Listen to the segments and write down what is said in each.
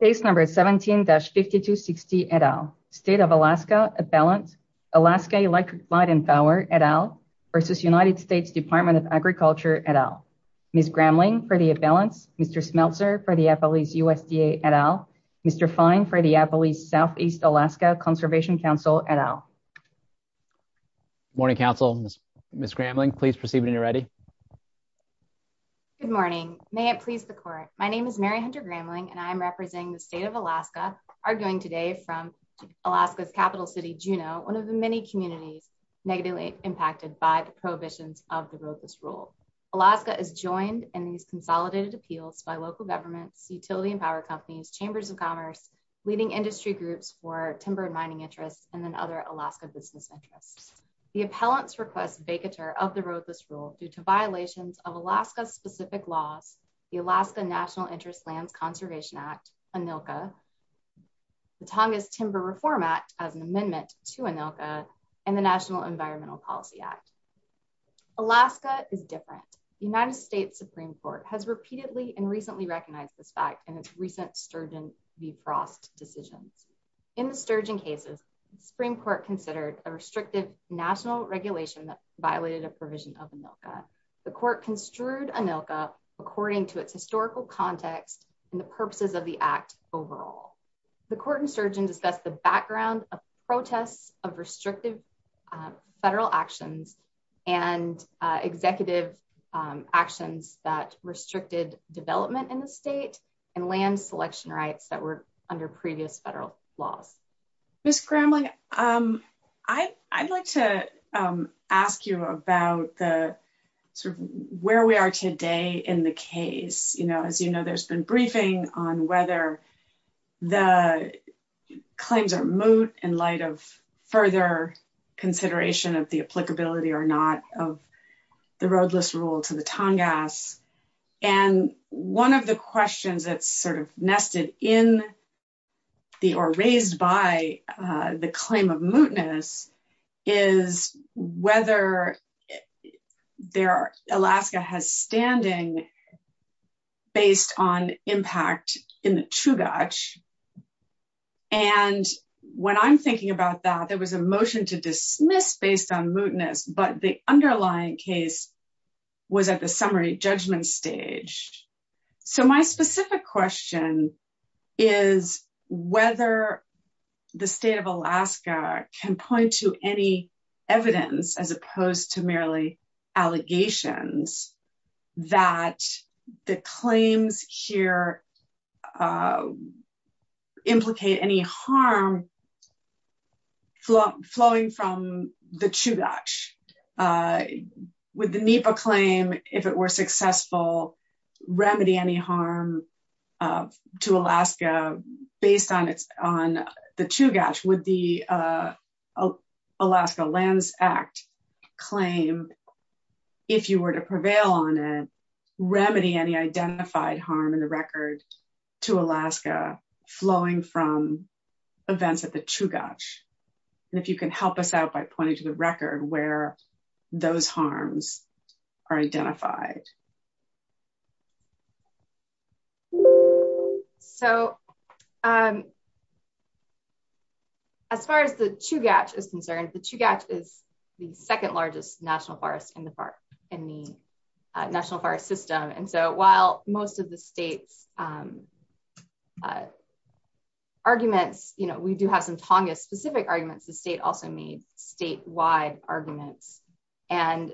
v. U.S. Department of Agriculture, et al. Case number 17-5260, et al. State of Alaska, et al. Alaska Electric Light and Power, et al. v. United States Department of Agriculture, et al. Ms. Gramling, for the et al. Mr. Smeltzer, for the U.S. Department of Agriculture, et al. Mr. Fine, for the Appalachia Southeast Alaska Conservation Council, et al. Morning, Council. Ms. Gramling, please proceed when you're ready. Good morning. May it please the Court. My name is Mary Hunter Gramling, and I am representing the State of Alaska, arguing today from Alaska's capital city, Juneau, one of the many communities negatively impacted by the prohibitions of the VOCUS rule. Alaska is joined in these consolidated appeals by local governments, utility and power companies, chambers of commerce, leading industry groups for timber and mining interests, and then other Alaska business interests. The appellants request vacatur of the VOCUS rule due to violations of Alaska-specific laws, the Alaska National Interest Lands Conservation Act, ANILCA, the Tongass Timber Reform Act as an amendment to ANILCA, and the National Environmental Policy Act. Alaska is different. The United States Supreme Court has repeatedly and recently recognized this fact in its recent Sturgeon v. Frost decisions. In the Sturgeon cases, the Supreme Court considered a restrictive national regulation that violated a provision of ANILCA. The Court construed ANILCA according to its historical context and the purposes of the Act overall. The Court in Sturgeon discussed the background of protests of restrictive federal actions and executive actions that restricted development in the state and land selection rights that were under previous federal laws. Ms. Kramling, I'd like to ask you about where we are today in the case. As you know, there's been briefing on whether the claims are moot in light of further consideration of the applicability or not of the roadless rule to the Tongass. And one of the questions that's sort of nested in or raised by the claim of mootness is whether Alaska has standing based on impact in the Chugach. And when I'm thinking about that, there was a motion to dismiss based on mootness, but the underlying case was at the summary judgment stage. So my specific question is whether the state of Alaska can point to any evidence, as opposed to merely allegations, that the claims here implicate any harm flowing from the Chugach. Would the NEPA claim, if it were successful, remedy any harm to Alaska based on the Chugach? Would the Alaska Lands Act claim, if you were to prevail on it, remedy any identified harm in the record to Alaska flowing from events at the Chugach? And if you can help us out by pointing to the record where those harms are identified. So, as far as the Chugach is concerned, the Chugach is the second largest national forest in the national forest system. And so while most of the state's arguments, you know, we do have some Tongass specific arguments, the state also made statewide arguments. And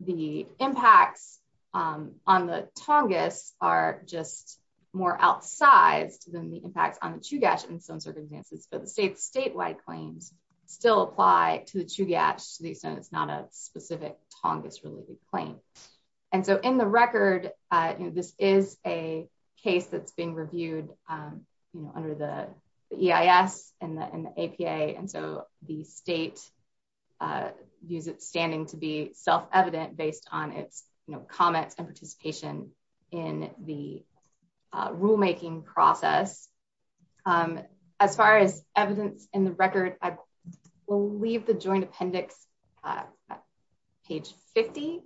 the impacts on the Tongass are just more outsized than the impacts on the Chugach in some circumstances, but the state's statewide claims still apply to the Chugach, so it's not a specific Tongass related claim. And so in the record, this is a case that's being reviewed under the EIS and the APA, and so the state views it standing to be self-evident based on its comments and participation in the rulemaking process. As far as evidence in the record, I believe the joint appendix, page 50,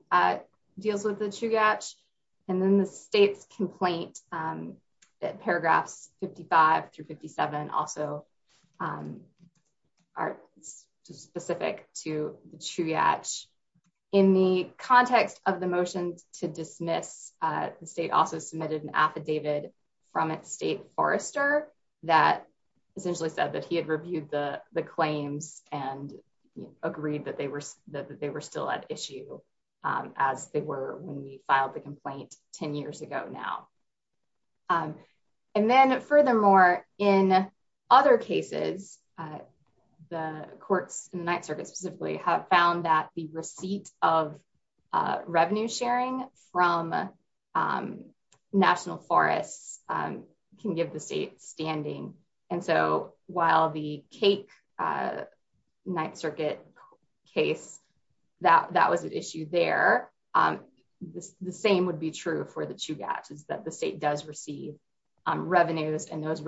deals with the Chugach, and then the state's complaint that paragraphs 55 through 57 also are specific to the Chugach. In the context of the motion to dismiss, the state also submitted an affidavit from its state forester that essentially said that he had reviewed the claims and agreed that they were still at issue as they were when we filed the complaint 10 years ago now. And then furthermore, in other cases, the courts, the Ninth Circuit specifically, have found that the receipt of revenue sharing from national forests can give the state standing. And so while the Cake Ninth Circuit case, that was an issue there, the same would be true for the Chugach, is that the state does receive revenues and has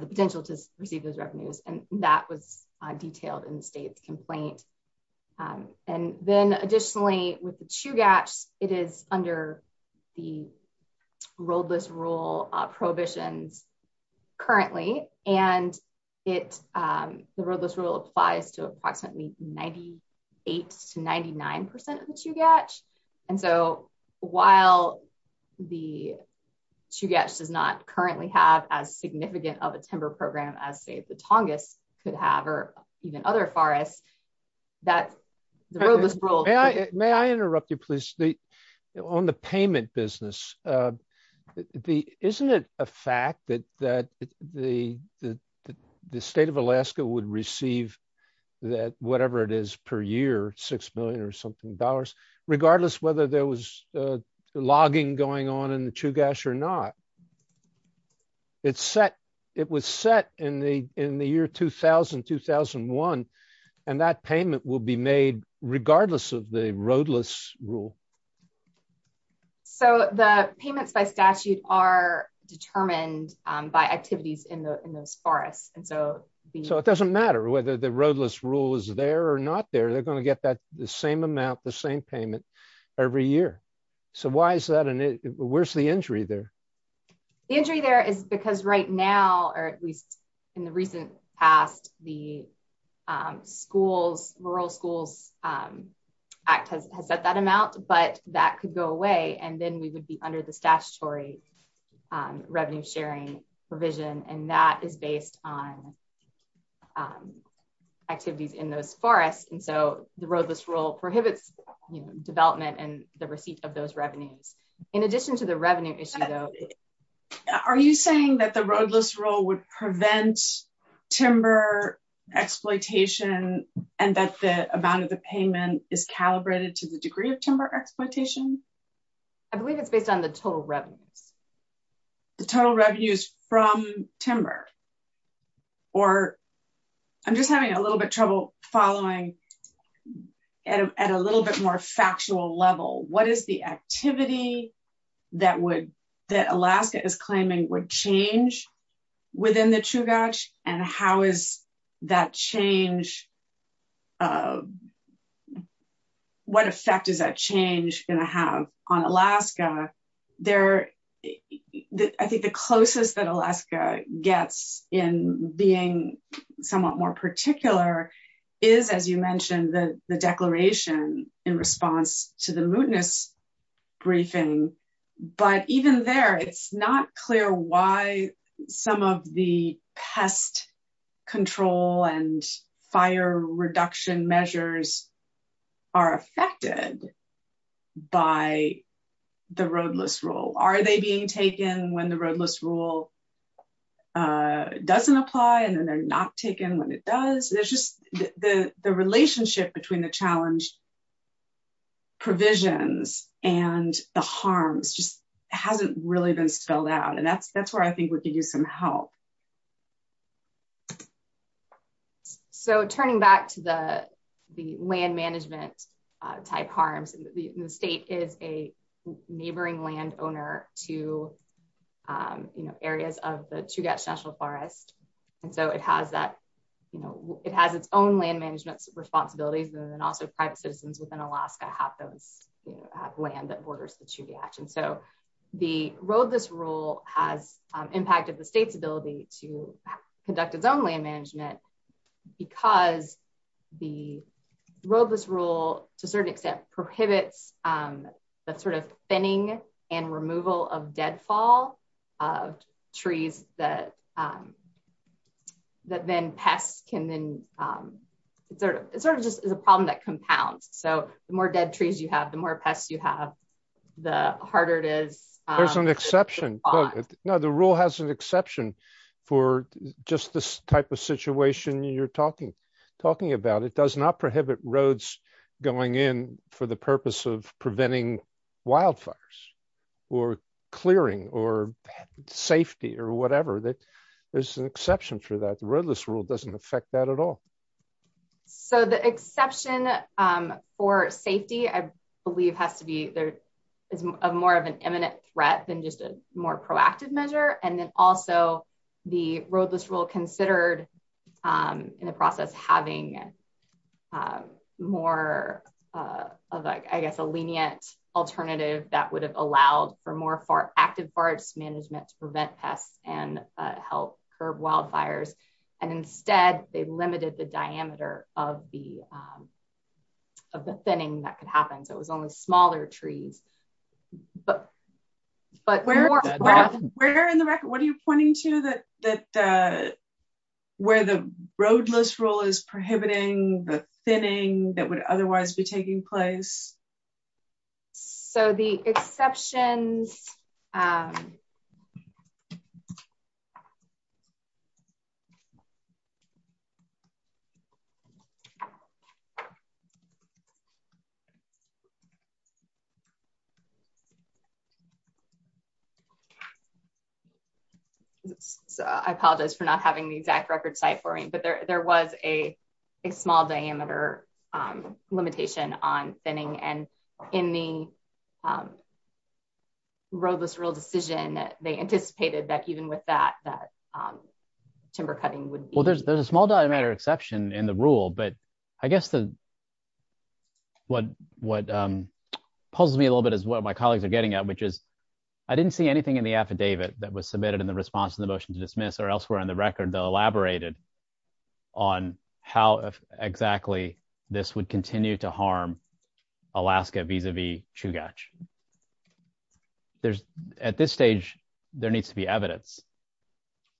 the potential to receive those revenues, and that was detailed in the state's complaint. And then additionally, with the Chugach, it is under the roadless rule prohibitions currently, and the roadless rule applies to approximately 98 to 99% of the Chugach. And so while the Chugach does not currently have as significant of a timber program as, say, the Tongass could have, or even other forests, that the roadless rule... Regardless whether there was logging going on in the Chugach or not, it was set in the year 2000-2001, and that payment will be made regardless of the roadless rule. So the payments by statute are determined by activities in those forests. So it doesn't matter whether the roadless rule is there or not there, they're going to get the same amount, the same payment, every year. So why is that? Where's the injury there? The injury there is because right now, or at least in the recent past, the schools, Rural Schools Act has set that amount, but that could go away, and then we would be under the statutory revenue sharing provision, and that is based on activities in those forests. And so the roadless rule prohibits development and the receipt of those revenues. In addition to the revenue issue, though... Are you saying that the roadless rule would prevent timber exploitation, and that the amount of the payment is calibrated to the degree of timber exploitation? I believe it's based on the total revenues. The total revenues from timber, or... I'm just having a little bit trouble following at a little bit more factual level. What is the activity that Alaska is claiming would change within the Chugach, and how is that change... What effect is that change going to have on Alaska? I think the closest that Alaska gets in being somewhat more particular is, as you mentioned, the declaration in response to the mootness briefing. But even there, it's not clear why some of the pest control and fire reduction measures are affected by the roadless rule. Are they being taken when the roadless rule doesn't apply, and then they're not taken when it does? The relationship between the challenge provisions and the harms just hasn't really been spelled out, and that's where I think we could use some help. Turning back to the land management type harms, the state is a neighboring land owner to areas of the Chugach National Forest. It has its own land management responsibilities, and then also private citizens within Alaska have land that borders the Chugach. The roadless rule has impacted the state's ability to conduct its own land management because the roadless rule, to a certain extent, prohibits the thinning and removal of deadfall of trees that then pests can then... There's an exception. No, the rule has an exception for just this type of situation you're talking about. It does not prohibit roads going in for the purpose of preventing wildfires or clearing or safety or whatever. There's an exception for that. The roadless rule doesn't affect that at all. The exception for safety, I believe, is more of an imminent threat than just a more proactive measure. Also, the roadless rule considered in the process having more of a lenient alternative that would have allowed for more active forest management to prevent pests and help curb wildfires. Instead, they limited the diameter of the thinning that could happen, so it was only smaller trees. What are you pointing to where the roadless rule is prohibiting the thinning that would otherwise be taking place? The exceptions... I apologize for not having the exact record site for me, but there was a small diameter limitation on thinning, and in the roadless rule decision, they anticipated that even with that, that timber cutting would be... There's a small diameter exception in the rule, but I guess what puzzles me a little bit is what my colleagues are getting at, which is I didn't see anything in the affidavit that was submitted in the response to the motion to dismiss or elsewhere on the record that elaborated on how exactly this would continue to harm Alaska vis-a-vis Chugach. At this stage, there needs to be evidence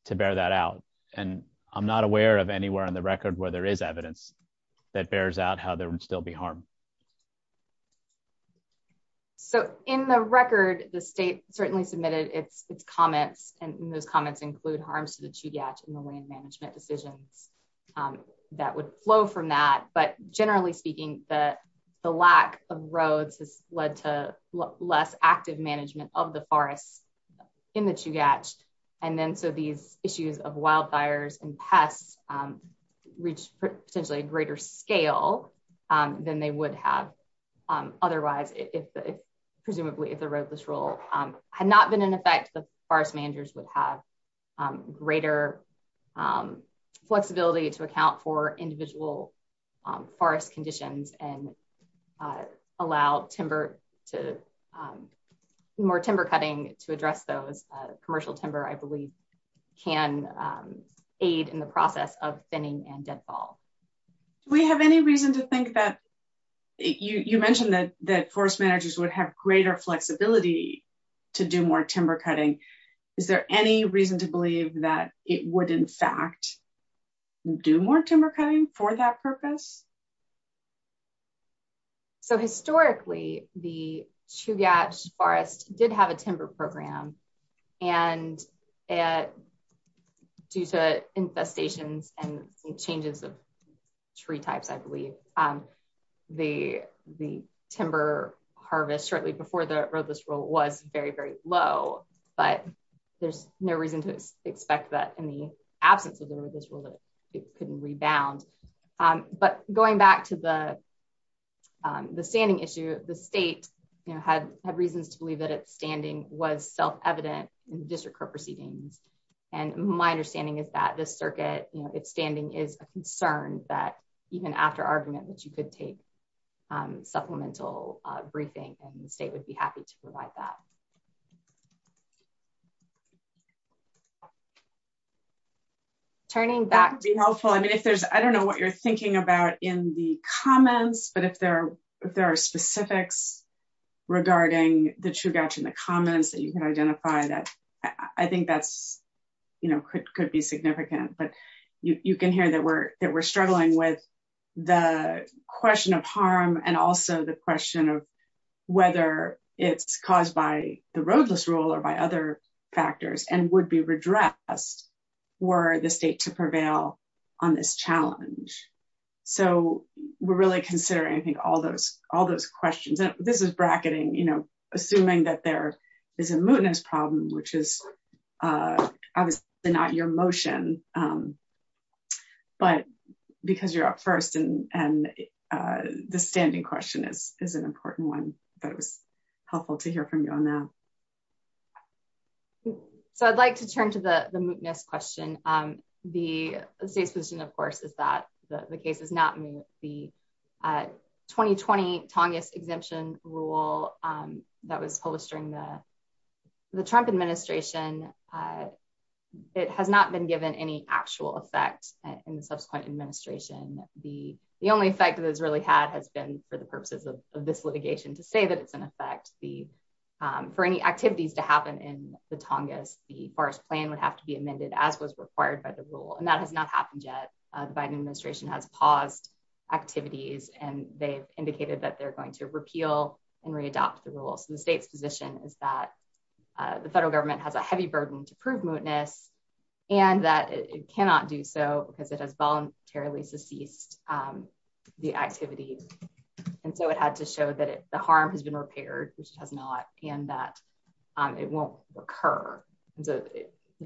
to bear that out, and I'm not aware of anywhere on the record where there is evidence that bears out how there would still be harm. In the record, the state certainly submitted its comments, and those comments include harms to the Chugach and the land management decisions that would flow from that, but generally speaking, the lack of roads has led to less active management of the forests in the Chugach. So these issues of wildfires and pests reach potentially a greater scale than they would have otherwise, presumably if the roadless rule had not been in effect, the forest managers would have greater flexibility to account for individual forest conditions and allow more timber cutting to address those. Commercial timber, I believe, can aid in the process of thinning and deadfall. Do we have any reason to think that, you mentioned that forest managers would have greater flexibility to do more timber cutting. Is there any reason to believe that it would in fact do more timber cutting for that purpose? So historically, the Chugach Forest did have a timber program, and due to infestations and changes of tree types, I believe, the timber harvest shortly before the roadless rule was very, very low, but there's no reason to expect that in the absence of the roadless rule that it couldn't rebound. But going back to the standing issue, the state had reasons to believe that its standing was self-evident in the district court proceedings, and my understanding is that this circuit, its standing is a concern that even after argument that you could take supplemental briefing and the state would be happy to provide that. Turning back to helpful, I mean, if there's, I don't know what you're thinking about in the comments, but if there are, if there are specifics regarding the Chugach in the comments that you can identify that, I think that's, you know, could be significant, but you can hear that we're, that we're struggling with the question of harm and also the question of whether it's caused by the roadless rule. Or by other factors and would be redressed were the state to prevail on this challenge. So we're really considering, I think, all those, all those questions. And this is bracketing, you know, assuming that there is a mootness problem, which is obviously not your motion. But because you're up first and the standing question is an important one that was helpful to hear from you on that. So I'd like to turn to the mootness question. The state's position, of course, is that the case is not moot. The 2020 Tongass exemption rule that was posted during the Trump administration, it has not been given any actual effect in the subsequent administration. The, the only effect that has really had has been for the purposes of this litigation to say that it's an effect, the, for any activities to happen in the Tongass, the forest plan would have to be amended as was required by the rule. And that has not happened yet. The Biden administration has paused activities and they've indicated that they're going to repeal and readopt the rule. So the state's position is that the federal government has a heavy burden to prove mootness, and that it cannot do so because it has voluntarily ceased the activity. And so it had to show that the harm has been repaired, which it has not, and that it won't recur. The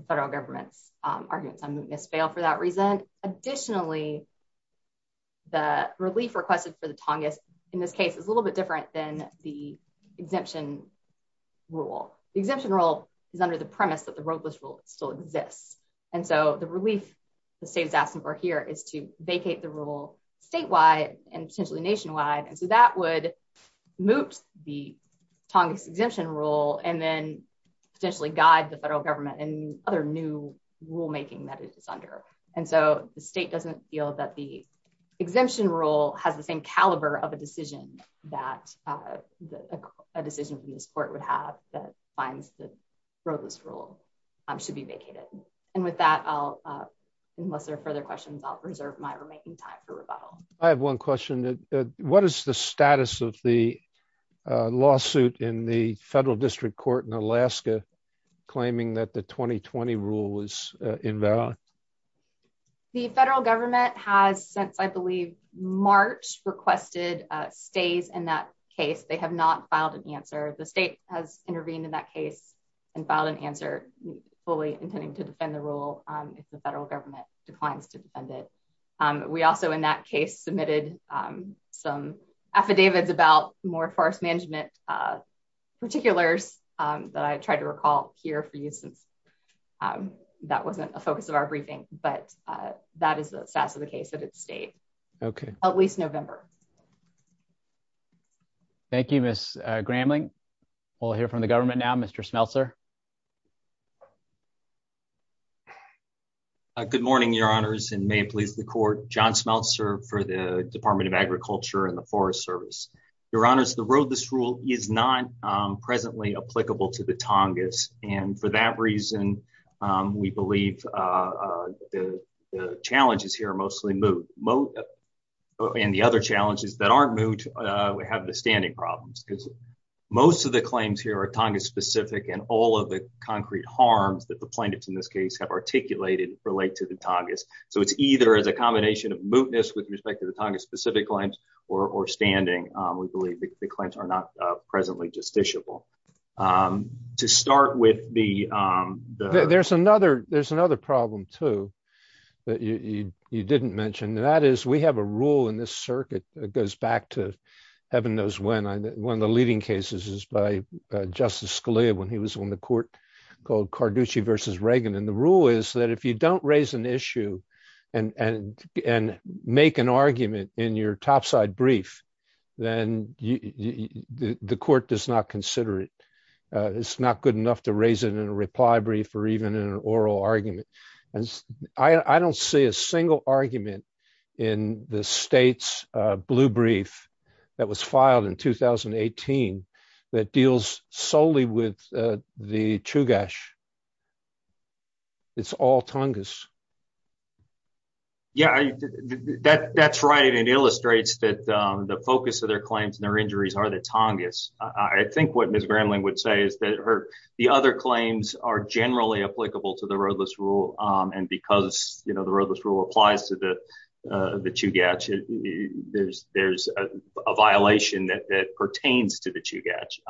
federal government's arguments on mootness fail for that reason. Additionally, the relief requested for the Tongass in this case is a little bit different than the exemption rule. The exemption rule is under the premise that the roadless rule still exists. And so the relief. The state is asking for here is to vacate the rule statewide and potentially nationwide and so that would moot the Tongass exemption rule and then potentially guide the federal government and other new rulemaking that it is under. And so, the state doesn't feel that the exemption rule has the same caliber of a decision that a decision from this court would have that finds the roadless rule should be vacated. And with that, unless there are further questions I'll reserve my remaining time for rebuttal. I have one question. What is the status of the lawsuit in the federal district court in Alaska, claiming that the 2020 rule was invalid. The federal government has since I believe March requested stays in that case they have not filed an answer the state has intervened in that case and filed an answer fully intending to defend the rule. The federal government declines to defend it. We also in that case submitted some affidavits about more forest management particulars that I tried to recall here for you since that wasn't a focus of our briefing, but that is the status of the case at its state. Okay, at least November. Thank you, Miss grambling. We'll hear from the government now Mr smelter. Good morning, your honors and may please the court john smelt serve for the Department of Agriculture and the Forest Service, your honors the road this rule is not presently applicable to the Tongass, and for that reason, we believe the challenges here and the other challenges that aren't moved. We have the standing problems because most of the claims here are Tonga specific and all of the concrete harms that the plaintiffs in this case have articulated relate to the Tongass. So it's either as a combination of mootness with respect to the Tonga specific claims or standing, we believe the claims are not presently justiciable. To start with the. There's another there's another problem to that you, you didn't mention that is we have a rule in this circuit, it goes back to heaven knows when I when the leading cases is by Justice Scalia when he was on the court called Carducci versus Reagan and the rule is that if you don't raise an issue and and and make an argument in your topside brief, then the court does not consider it. It's not good enough to raise it in a reply brief or even an oral argument. And I don't see a single argument in the state's blue brief that was filed in 2018 that deals solely with the true gosh. It's all Tonga. Yeah, that that's right. It illustrates that the focus of their claims and their injuries are the Tongass. I think what Miss Gramling would say is that the other claims are generally applicable to the roadless rule. And because, you know, the roadless rule applies to the to gadget. There's, there's a violation that pertains to the to catch.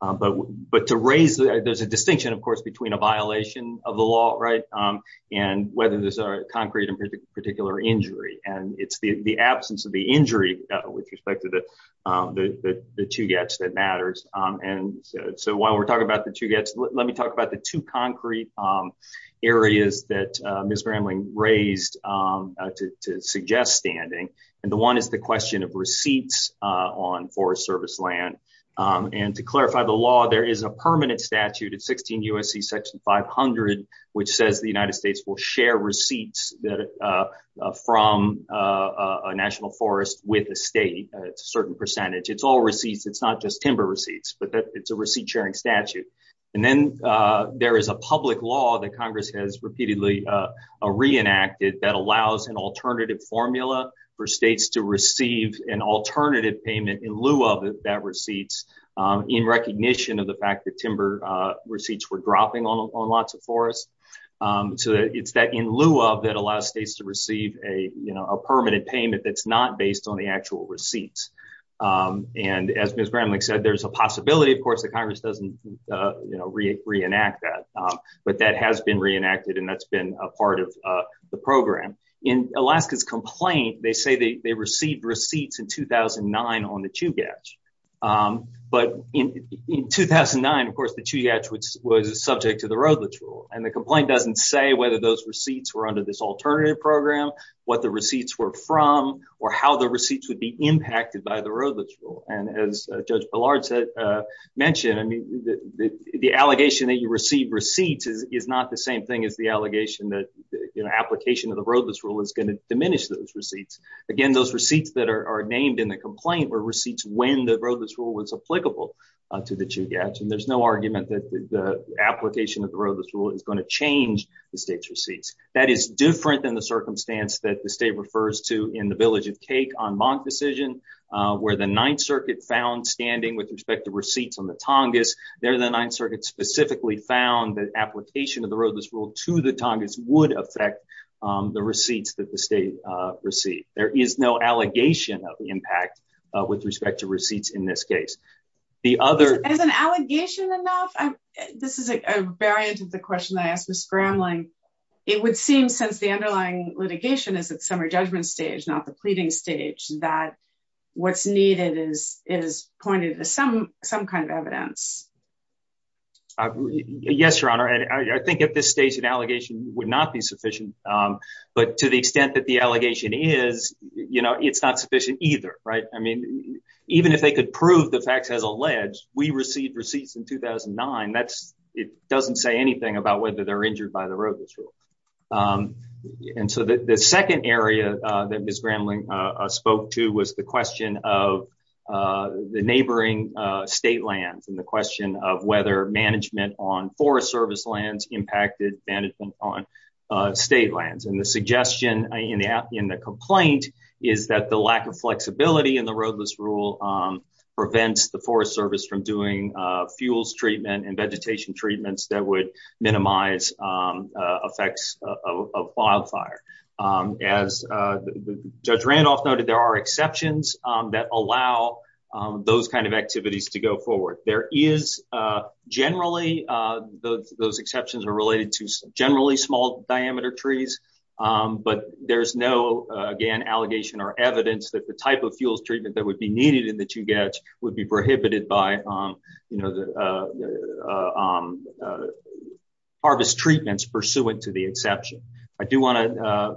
But, but to raise the there's a distinction, of course, between a violation of the law right and whether there's a concrete and particular injury and it's the absence of the injury with respect to that. The two gaps that matters. And so while we're talking about the two gaps. Let me talk about the two concrete areas that Miss Gramling raised to suggest standing and the one is the question of receipts on Forest Service land. And to clarify the law, there is a permanent statute at 16 USC section 500 which says the United States will share receipts that from a national forest with a state certain percentage. It's all receipts. It's not just timber receipts, but it's a receipt sharing statute. And then there is a public law that Congress has repeatedly reenacted that allows an alternative formula for states to receive an alternative payment in lieu of that receipts in recognition of the fact that timber receipts were dropping on lots of forests. So it's that in lieu of that allows states to receive a permanent payment that's not based on the actual receipts. And as Miss Gramling said there's a possibility, of course, the Congress doesn't, you know, re reenact that but that has been reenacted and that's been a part of the program in Alaska's complaint, they say they received receipts in 2009 on the two gaps. But in 2009, of course, the two gaps, which was subject to the road, let's rule and the complaint doesn't say whether those receipts were under this alternative program, what the receipts were from or how the receipts would be impacted by the road. Let's rule. And as Judge Ballard said, mentioned, I mean, the allegation that you receive receipts is not the same thing as the allegation that, you know, application of the roadless rule is going to diminish those receipts. Again, those receipts that are named in the complaint were receipts when the roadless rule was applicable to the two gaps and there's no argument that the application of the roadless rule is going to change the state's receipts. That is different than the circumstance that the state refers to in the Village of Cake on Monk decision, where the Ninth Circuit found standing with respect to receipts on the Tongass, there the Ninth Circuit specifically found that application of the roadless rule to the Tongass would affect the receipts that the state received. There is no allegation of impact with respect to receipts in this case. Is an allegation enough? This is a variant of the question I asked Ms. Gramling. It would seem since the underlying litigation is at summer judgment stage, not the pleading stage, that what's needed is pointed to some kind of evidence. Yes, Your Honor. And I think at this stage, an allegation would not be sufficient. But to the extent that the allegation is, you know, it's not sufficient either. Right. I mean, even if they could prove the facts as alleged, we received receipts in 2009. That's it doesn't say anything about whether they're injured by the roadless rule. And so the second area that Ms. Gramling spoke to was the question of the neighboring state lands and the question of whether management on Forest Service lands impacted management on state lands. And the suggestion in the complaint is that the lack of flexibility in the roadless rule prevents the Forest Service from doing fuels treatment and vegetation treatments that would minimize effects of wildfire. As Judge Randolph noted, there are exceptions that allow those kind of activities to go forward. There is generally those exceptions are related to generally small diameter trees. But there's no, again, allegation or evidence that the type of fuels treatment that would be needed and that you get would be prohibited by, you know, the harvest treatments pursuant to the exception. I do want to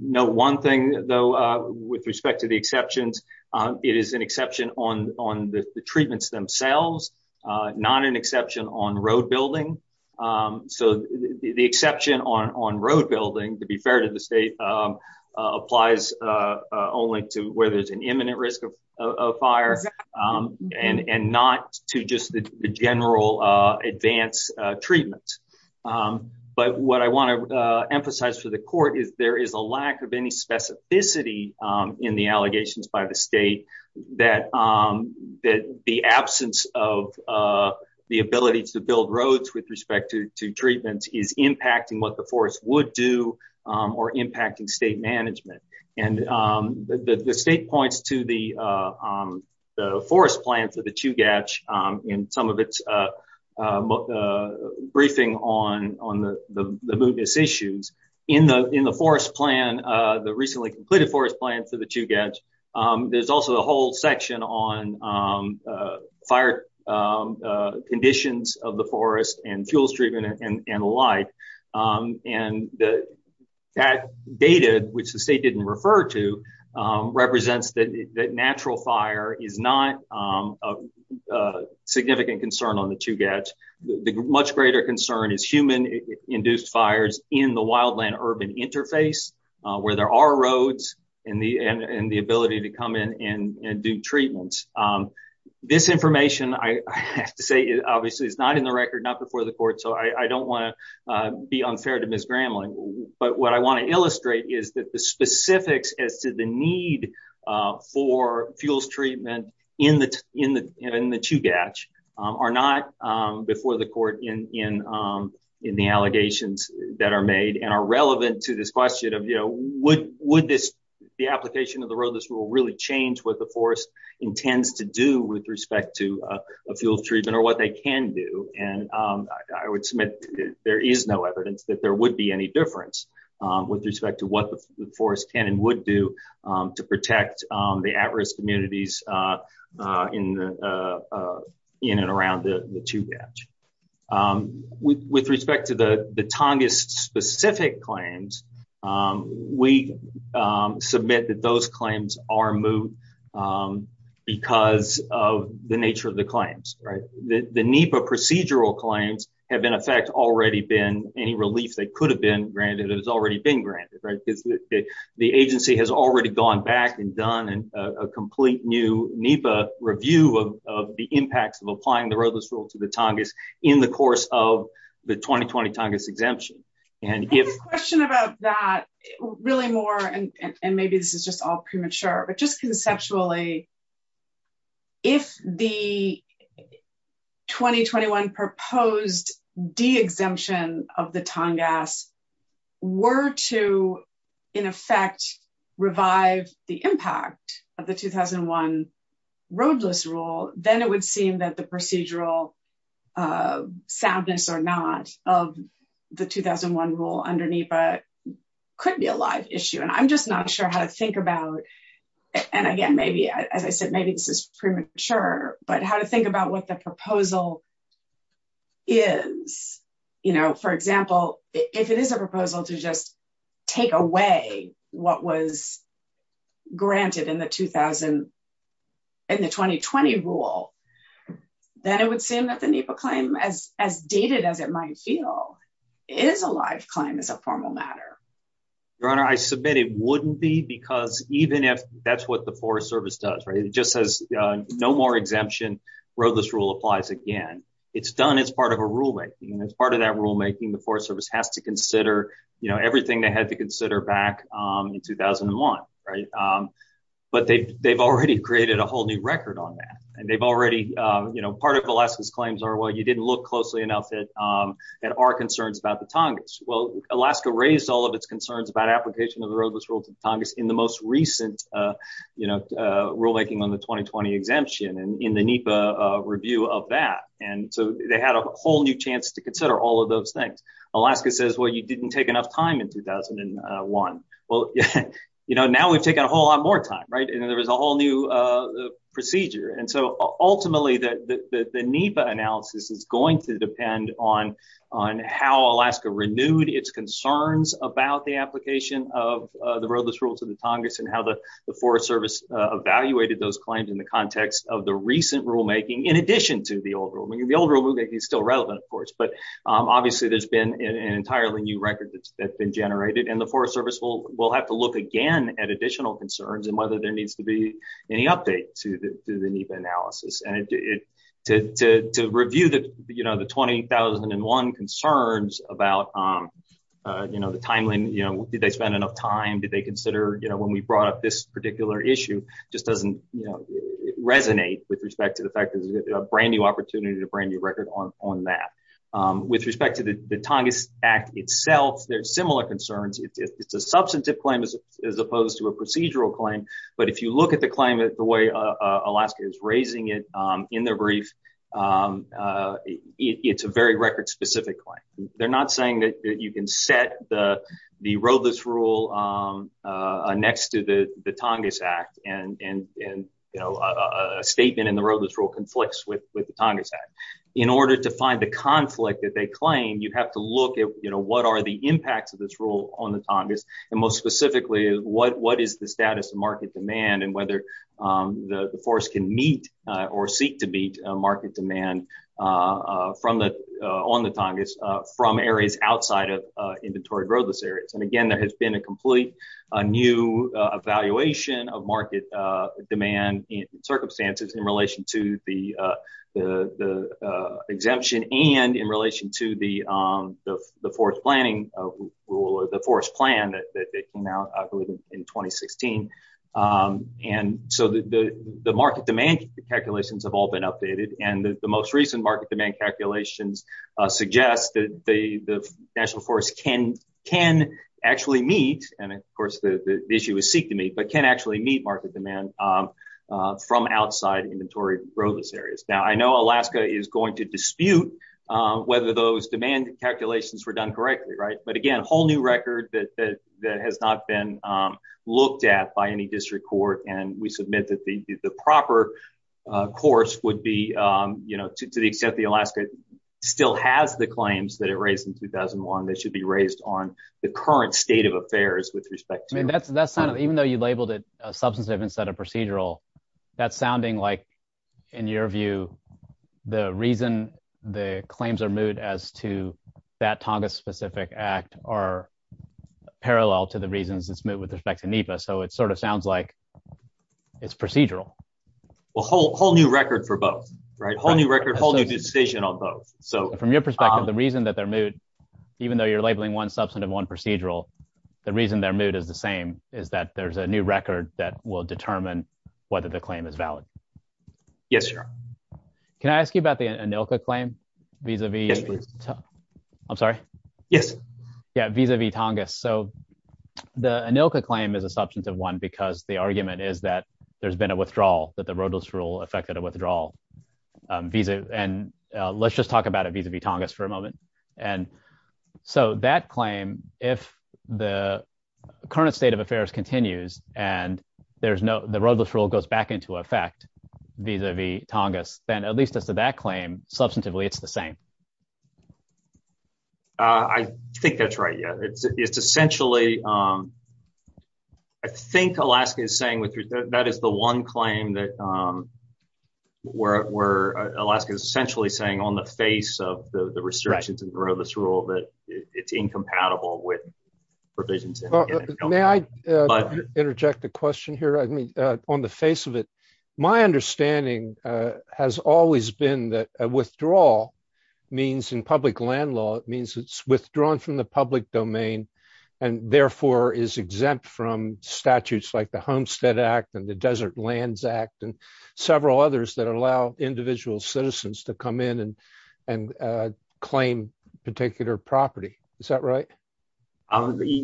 know one thing, though, with respect to the exceptions. It is an exception on on the treatments themselves, not an exception on road building. So the exception on on road building, to be fair to the state, applies only to where there's an imminent risk of fire and not to just the general advance treatment. But what I want to emphasize for the court is there is a lack of any specificity in the allegations by the state that that the absence of the ability to build roads with respect to treatments is impacting what the forest would do or impacting state management. And the state points to the forest plan for the Chugach in some of its briefing on the mootness issues. In the forest plan, the recently completed forest plan for the Chugach, there's also a whole section on fire conditions of the forest and fuels treatment and the like. And that data, which the state didn't refer to, represents that natural fire is not a significant concern on the Chugach. The much greater concern is human induced fires in the wildland urban interface where there are roads and the and the ability to come in and do treatments. This information, I have to say, obviously, is not in the record, not before the court. So I don't want to be unfair to Ms. Gramling. But what I want to illustrate is that the specifics as to the need for fuels treatment in the in the in the Chugach are not before the court in in in the allegations that are made and are relevant to this question of, you know, would would this be application of the road? Would this rule really change what the forest intends to do with respect to a fuel treatment or what they can do? And I would submit there is no evidence that there would be any difference with respect to what the forest can and would do to protect the at risk communities in the in and around the Chugach. With respect to the Tongass specific claims, we submit that those claims are moved because of the nature of the claims. Right. The NEPA procedural claims have, in effect, already been any relief. They could have been granted. It has already been granted. Right. The agency has already gone back and done a complete new NEPA review of the impacts of applying the roadless rule to the Tongass in the course of the 2020 Tongass exemption. And the question about that really more and maybe this is just all premature, but just conceptually. If the 2021 proposed de-exemption of the Tongass were to, in effect, revive the impact of the 2001 roadless rule, then it would seem that the procedural soundness or not of the 2001 rule under NEPA could be a live issue. And I'm just not sure how to think about. And again, maybe, as I said, maybe this is premature, but how to think about what the proposal is, you know, for example, if it is a proposal to just take away what was granted in the 2000 and the 2020 rule, then it would seem that the NEPA claim, as dated as it might feel, is a live claim as a formal matter. It wouldn't be because even if that's what the Forest Service does, it just says no more exemption. Roadless rule applies again. It's done. It's part of a rule. It's part of that rulemaking. The Forest Service has to consider everything they had to consider back in 2001. But they've already created a whole new record on that. And they've already, you know, part of Alaska's claims are, well, you didn't look closely enough at our concerns about the Tongass. Well, Alaska raised all of its concerns about application of the roadless rule to the Tongass in the most recent rulemaking on the 2020 exemption and in the NEPA review of that. And so they had a whole new chance to consider all of those things. Alaska says, well, you didn't take enough time in 2001. Well, you know, now we've taken a whole lot more time. Right. And there was a whole new procedure. And so ultimately, the NEPA analysis is going to depend on how Alaska renewed its concerns about the application of the roadless rule to the Tongass and how the Forest Service evaluated those claims in the context of the recent rulemaking, in addition to the old rulemaking. The old rulemaking is still relevant, of course, but obviously there's been an entirely new record that's been generated. And the Forest Service will have to look again at additional concerns and whether there needs to be any update to the NEPA analysis. And to review that, you know, the 2001 concerns about, you know, the timeline, you know, did they spend enough time? Did they consider, you know, when we brought up this particular issue just doesn't resonate with respect to the fact that there's a brand new opportunity, a brand new record on that. With respect to the Tongass Act itself, there's similar concerns. It's a substantive claim as opposed to a procedural claim. But if you look at the claim, the way Alaska is raising it in their brief, it's a very record specific claim. They're not saying that you can set the roadless rule next to the Tongass Act and, you know, a statement in the roadless rule conflicts with the Tongass Act. In order to find the conflict that they claim, you have to look at, you know, what are the impacts of this rule on the Tongass? And most specifically, what is the status of market demand and whether the forest can meet or seek to meet market demand on the Tongass from areas outside of inventory roadless areas? And again, there has been a complete new evaluation of market demand circumstances in relation to the exemption and in relation to the forest planning rule, the forest plan that came out in 2016. And so the market demand calculations have all been updated. And the most recent market demand calculations suggest that the National Forest can actually meet, and of course, the issue is seek to meet, but can actually meet market demand from outside inventory roadless areas. Now, I know Alaska is going to dispute whether those demand calculations were done correctly, right? But again, a whole new record that has not been looked at by any district court. And we submit that the proper course would be, you know, to the extent that Alaska still has the claims that it raised in 2001, they should be raised on the current state of affairs with respect to. Even though you labeled it substantive instead of procedural, that's sounding like, in your view, the reason the claims are moot as to that Tongass specific act are parallel to the reasons it's moot with respect to NEPA. So it sort of sounds like it's procedural. Well, whole new record for both, right? Whole new record, whole new decision on both. From your perspective, the reason that they're moot, even though you're labeling one substantive, one procedural, the reason they're moot is the same, is that there's a new record that will determine whether the claim is valid. Yes, sir. Can I ask you about the ANILCA claim vis-a-vis Tongass? Yes. Yeah, vis-a-vis Tongass. So the ANILCA claim is a substantive one because the argument is that there's been a withdrawal, that the roadless rule affected a withdrawal. And let's just talk about it vis-a-vis Tongass for a moment. And so that claim, if the current state of affairs continues and the roadless rule goes back into effect vis-a-vis Tongass, then at least as to that claim, substantively, it's the same. I think that's right. Yeah, it's essentially, I think Alaska is saying that that is the one claim that where Alaska is essentially saying on the face of the restrictions and roadless rule that it's incompatible with provisions. May I interject a question here? I mean, on the face of it, my understanding has always been that a withdrawal means in public land law, it means it's withdrawn from the public domain and therefore is exempt from statutes like the Homestead Act and the Desert Lands Act and several others that allow individual citizens to come in and claim particular property. Is that right?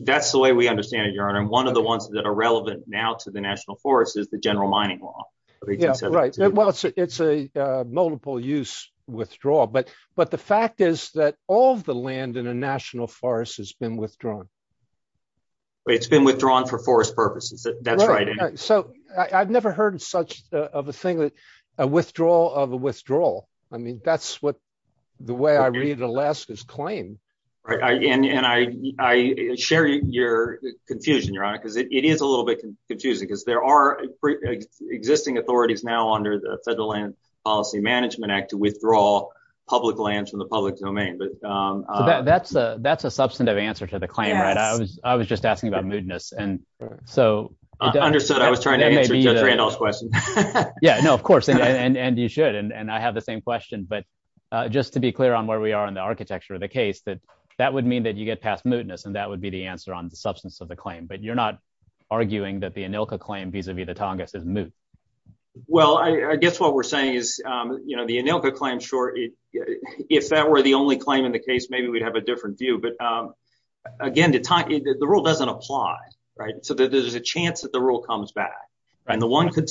That's the way we understand it, Your Honor. And one of the ones that are relevant now to the national forest is the general mining law. Yeah, right. Well, it's a multiple use withdrawal. But the fact is that all of the land in a national forest has been withdrawn. It's been withdrawn for forest purposes. That's right. So I've never heard of such a thing as a withdrawal of a withdrawal. I mean, that's what the way I read Alaska's claim. And I share your confusion, Your Honor, because it is a little bit confusing because there are existing authorities now under the Federal Land Policy Management Act to withdraw public land from the public domain. That's a substantive answer to the claim, right? I was just asking about moodiness. Understood. I was trying to answer Judge Randolph's question. Yeah, no, of course. And you should. And I have the same question. But just to be clear on where we are in the architecture of the case, that that would mean that you get past moodiness and that would be the answer on the substance of the claim. But you're not arguing that the ANILCA claim vis-a-vis the Tongass is moot. Well, I guess what we're saying is, you know, the ANILCA claim, sure, if that were the only claim in the case, maybe we'd have a different view. But again, the rule doesn't apply. So there's a chance that the rule comes back. And the one and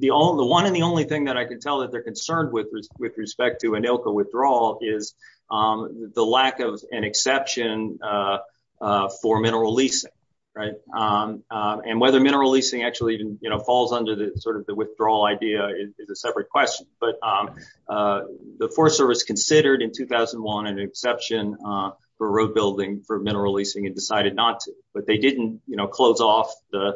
the only thing that I can tell that they're concerned with with respect to ANILCA withdrawal is the lack of an exception for mineral leasing. Right. And whether mineral leasing actually falls under the sort of the withdrawal idea is a separate question. But the Forest Service considered in 2001 an exception for road building for mineral leasing and decided not to. But they didn't close off the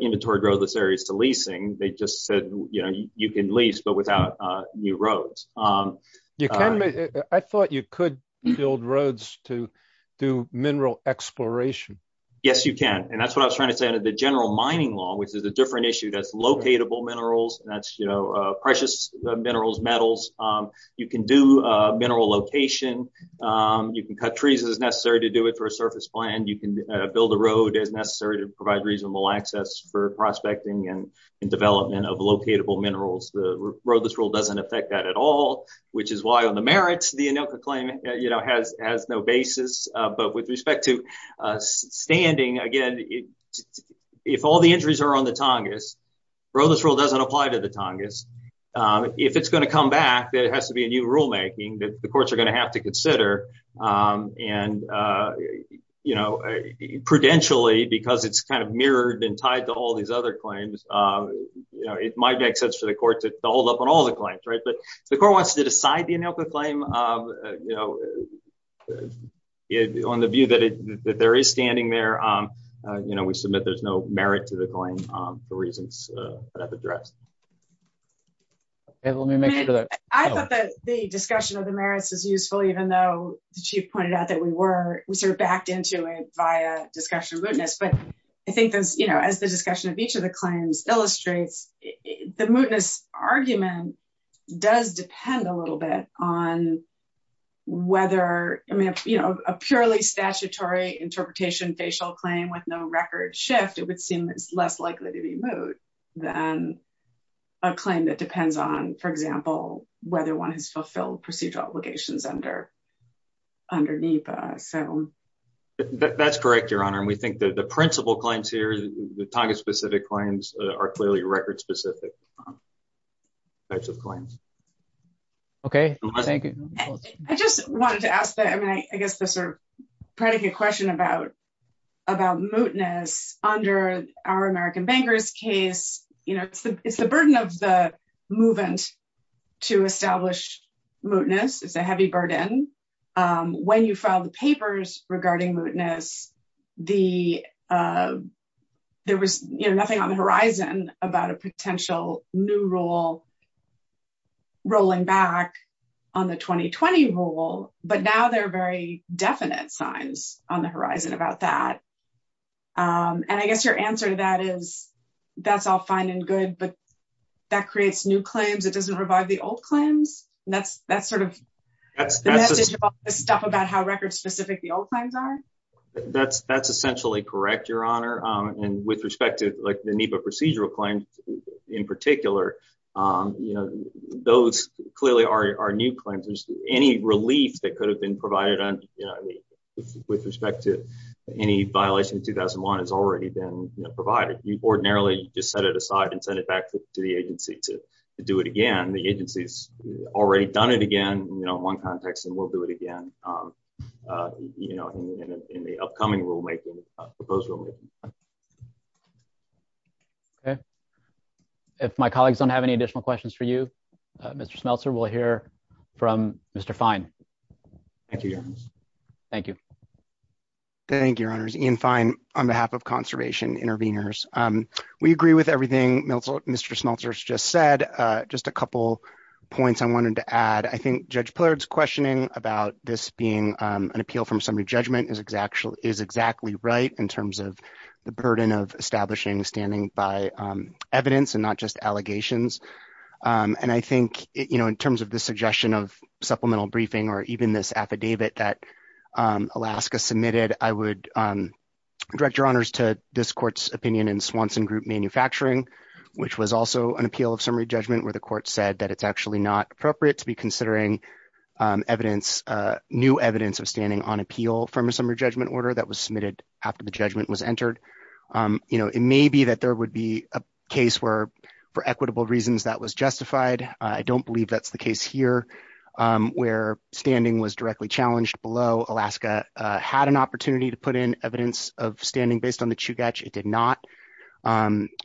inventory roadless areas to leasing. They just said, you know, you can lease, but without new roads. I thought you could build roads to do mineral exploration. Yes, you can. And that's what I was trying to say under the general mining law, which is a different issue. That's locatable minerals. That's, you know, precious minerals, metals. You can do mineral location. You can cut trees as necessary to do it for a surface plan. You can build a road as necessary to provide reasonable access for prospecting and development of locatable minerals. The roadless rule doesn't affect that at all, which is why on the merits, the ANILCA claim has no basis. But with respect to standing again, if all the injuries are on the Tongass, roadless rule doesn't apply to the Tongass. If it's going to come back, there has to be a new rulemaking that the courts are going to have to consider. And, you know, prudentially, because it's kind of mirrored and tied to all these other claims, you know, it might make sense for the court to hold up on all the claims. But if the court wants to decide the ANILCA claim, you know, on the view that there is standing there, you know, we submit there's no merit to the claim for reasons that I've addressed. I thought that the discussion of the merits is useful, even though the chief pointed out that we were sort of backed into it via discussion of mootness. But I think, you know, as the discussion of each of the claims illustrates, the mootness argument does depend a little bit on whether, you know, a purely statutory interpretation facial claim with no record shift, it would seem less likely to be moot. Than a claim that depends on, for example, whether one has fulfilled procedural obligations under NEPA. That's correct, Your Honor. And we think that the principal claims here, the Tongass specific claims are clearly record specific types of claims. Okay, thank you. I just wanted to ask that, I mean, I guess the sort of predicate question about mootness under our American Bankers case, you know, it's the burden of the movement to establish mootness, it's a heavy burden. When you file the papers regarding mootness, there was nothing on the horizon about a potential new rule rolling back on the 2020 rule, but now there are very definite signs on the horizon about that. And I guess your answer to that is, that's all fine and good, but that creates new claims, it doesn't revive the old claims. That's sort of... The message of all this stuff about how record specific the old claims are? That's essentially correct, Your Honor. And with respect to the NEPA procedural claims in particular, you know, those clearly are new claims. Any relief that could have been provided with respect to any violation in 2001 has already been provided. You ordinarily just set it aside and send it back to the agency to do it again. The agency's already done it again, you know, in one context, and will do it again, you know, in the upcoming rulemaking, proposed rulemaking. Okay. If my colleagues don't have any additional questions for you, Mr. Smeltzer, we'll hear from Mr. Fine. Thank you, Your Honor. Thank you. Thank you, Your Honors. Ian Fine on behalf of Conservation Interveners. We agree with everything Mr. Smeltzer just said. Just a couple points I wanted to add. I think Judge Pillard's questioning about this being an appeal from somebody's judgment is exactly right in terms of the burden of establishing standing by evidence and not just allegations. And I think, you know, in terms of the suggestion of supplemental briefing or even this affidavit that Alaska submitted, I would direct Your Honors to this court's opinion in Swanson Group Manufacturing, which was also an appeal of summary judgment where the court said that it's actually not appropriate to be considering evidence, new evidence of standing on appeal from a summary judgment order that was submitted after the judgment was entered. You know, it may be that there would be a case where, for equitable reasons, that was justified. I don't believe that's the case here. Where standing was directly challenged below, Alaska had an opportunity to put in evidence of standing based on the Chugach. It did not.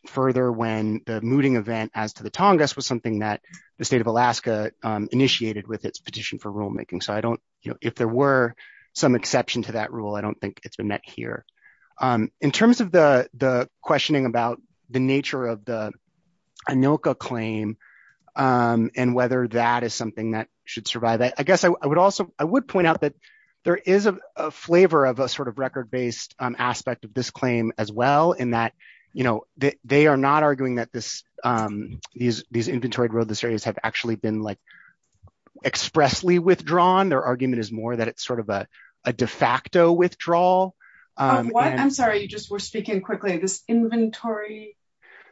Further, when the mooting event as to the Tongass was something that the state of Alaska initiated with its petition for rulemaking, so I don't, you know, if there were some exception to that rule, I don't think it's been met here. In terms of the the questioning about the nature of the ANILCA claim and whether that is something that should survive, I guess I would also, I would point out that there is a flavor of a sort of record based aspect of this claim as well, in that, you know, they are not arguing that this, these, these inventoried roadless areas have actually been like expressly withdrawn. Their argument is more that it's sort of a de facto withdrawal. I'm sorry, you just were speaking quickly, this inventory.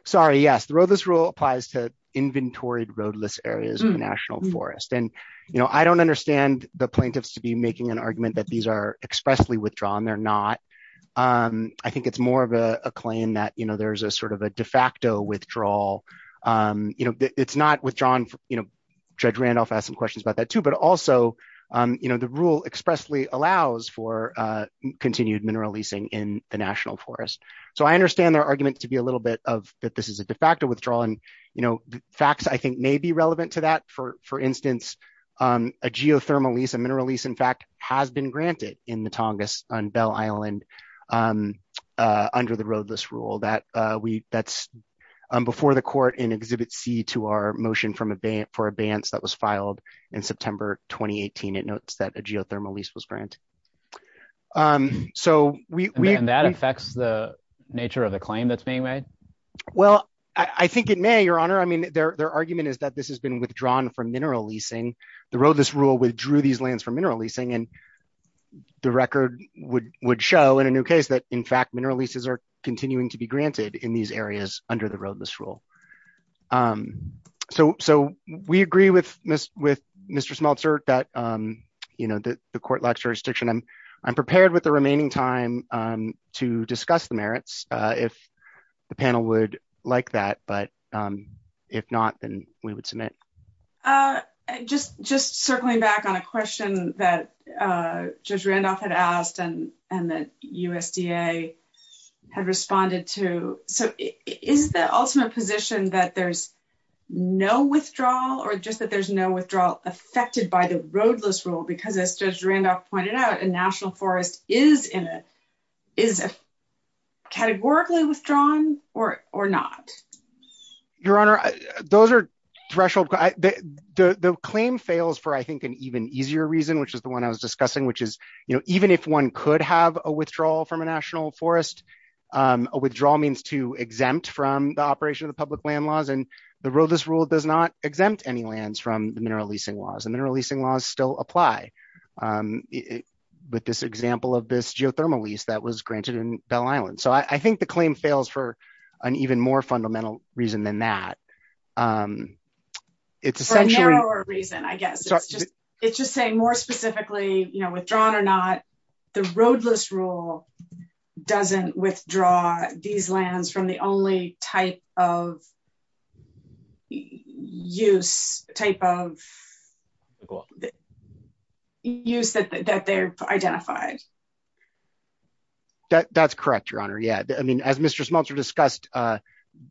Sorry, yes, the roadless rule applies to inventoried roadless areas in the National Forest. And, you know, I don't understand the plaintiffs to be making an argument that these are expressly withdrawn, they're not. I think it's more of a claim that, you know, there's a sort of a de facto withdrawal. You know, it's not withdrawn, you know, Judge Randolph asked some questions about that too, but also, you know, the rule expressly allows for continued mineral leasing in the National Forest. So I understand their argument to be a little bit of that this is a de facto withdrawal and, you know, facts I think may be relevant to that for instance, a geothermal lease a mineral lease in fact has been granted in the Tongass on Bell Island. Under the roadless rule that we that's before the court in Exhibit C to our motion from a ban for a bans that was filed in September, 2018 it notes that a geothermal lease was granted. So, we have that affects the nature of the claim that's being made. Well, I think it may Your Honor I mean their argument is that this has been withdrawn from mineral leasing the roadless rule withdrew these lands for mineral leasing and the record would would show in a new case that in fact mineral leases are continuing to be granted in these areas under the roadless rule. So, so we agree with Miss with Mr smelter that, you know, the court like jurisdiction and I'm prepared with the remaining time to discuss the merits. If the panel would like that but if not, then we would submit. Just just circling back on a question that just Randolph had asked and, and the USDA had responded to. So, is the ultimate position that there's no withdrawal or just that there's no withdrawal affected by the roadless rule because as Judge Randolph pointed out a national forest is in it is categorically withdrawn, or, or not. Your Honor. Those are threshold. The claim fails for I think an even easier reason which is the one I was discussing which is, you know, even if one could have a withdrawal from a national forest. Withdrawal means to exempt from the operation of the public land laws and the roadless rule does not exempt any lands from the mineral leasing laws and mineral leasing laws still apply. But this example of this geothermal lease that was granted in Bell Island so I think the claim fails for an even more fundamental reason than that. It's a reason I guess it's just saying more specifically, you know, withdrawn or not, the roadless rule doesn't withdraw these lands from the only type of use type of. Use that they're identified. That's correct, Your Honor. Yeah, I mean as Mr Smeltzer discussed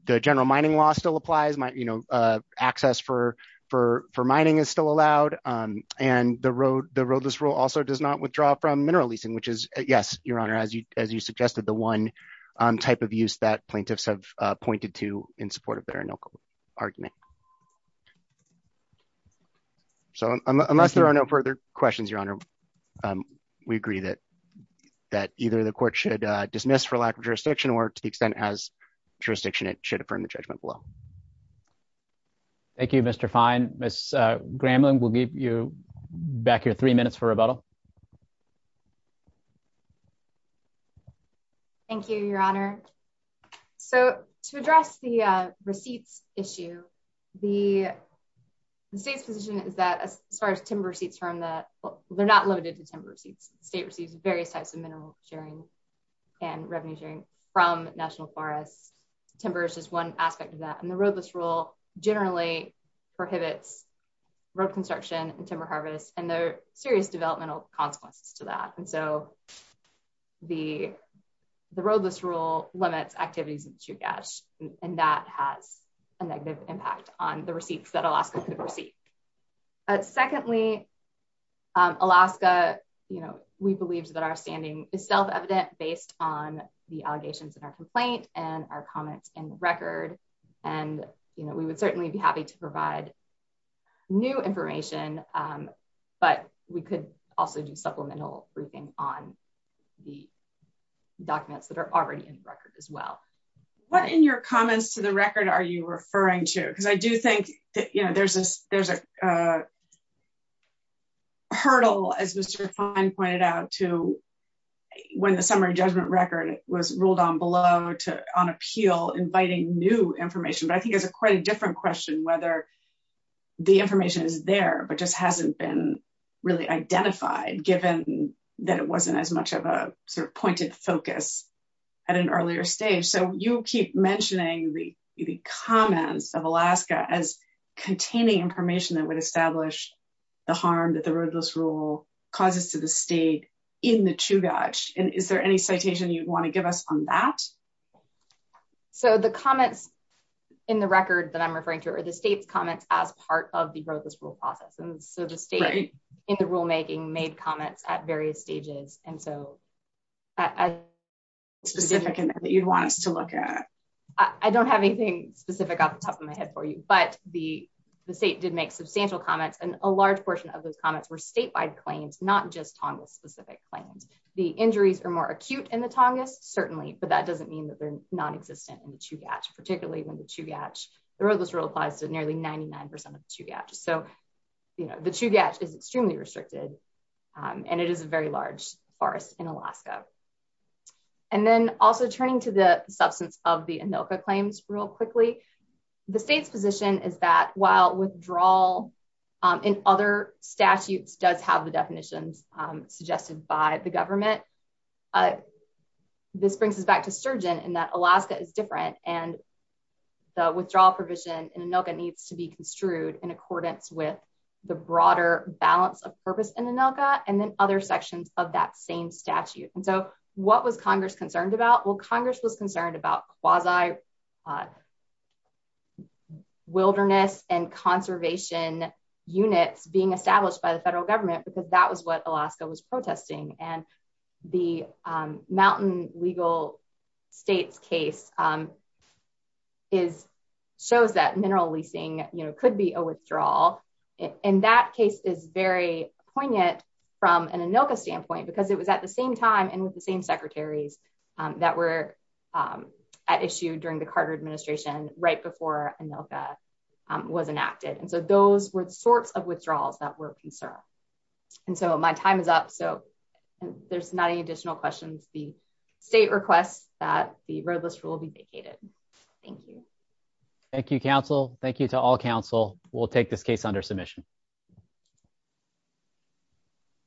the general mining law still applies my, you know, access for for for mining is still allowed. And the road, the roadless rule also does not withdraw from mineral leasing which is, yes, Your Honor as you as you suggested the one type of use that plaintiffs have pointed to in support of their local argument. So, unless there are no further questions, Your Honor. We agree that that either the court should dismiss for lack of jurisdiction or to the extent as jurisdiction, it should affirm the judgment below. Thank you, Mr fine, Miss Gremlin will give you back your three minutes for rebuttal. Thank you, Your Honor. So, to address the receipts issue. The state's position is that as far as timber seats from that they're not limited to timber seats, state receives various types of mineral sharing and revenue sharing from national forest timbers is one aspect of that and the roadless rule, generally prohibits road construction and timber harvest and their serious developmental consequences to that and so the, the roadless rule limits activities to cash, and that has a negative impact on the receipts that Alaska secondly, Alaska, you know, we believe that our standing is self evident based on the allegations in our complaint, and our comments in the record. And, you know, we would certainly be happy to provide new information, but we could also do supplemental briefing on the documents that are already in record as well. What in your comments to the record, are you referring to, because I do think that you know there's this, there's a hurdle as Mr fine pointed out to when the summary judgment record was ruled on below to on appeal inviting new information but I think it's a quite a different question whether the information is there but just hasn't been really identified given that it wasn't as much of a sort of pointed focus at an earlier stage so you keep mentioning the comments of Alaska as containing information that would establish the harm that the roadless rule causes to the state in the true dodge, and is there any citation you'd want to give us on that. So the comments in the record that I'm referring to are the state's comments as part of the roadless rule process and so the state in the rulemaking made comments at various stages, and so I specific and that you'd want us to look at. I don't have anything specific off the top of my head for you but the, the state did make substantial comments and a large portion of those comments were statewide claims, not just toggle specific claims, the injuries are more acute and the Tongass certainly but that doesn't mean that they're non existent and to catch particularly when the to catch the roadless rule applies to nearly 99% of the two gaps so you know the two gaps is extremely restricted. And it is a very large forest in Alaska. And then also turning to the substance of the ANILCA claims real quickly. The state's position is that while withdrawal in other statutes does have the definitions suggested by the government. This brings us back to Surgeon and that Alaska is different, and the withdrawal provision in ANILCA needs to be construed in accordance with the broader balance of purpose in ANILCA, and then other sections of that same statute. And so, what was Congress concerned about well Congress was concerned about quasi wilderness and conservation units being established by the federal government because that was what Alaska was protesting and the mountain legal states case is shows that mineral leasing, you know, could be a withdrawal in that case is very poignant from an ANILCA standpoint because it was at the same time and with the same secretaries that were issued during the Carter administration, right before ANILCA was enacted and so those were the sorts of withdrawals that were concerned. And so my time is up so there's not any additional questions the state requests that the roadless rule be vacated. Thank you. Thank you, counsel. Thank you to all counsel will take this case under submission.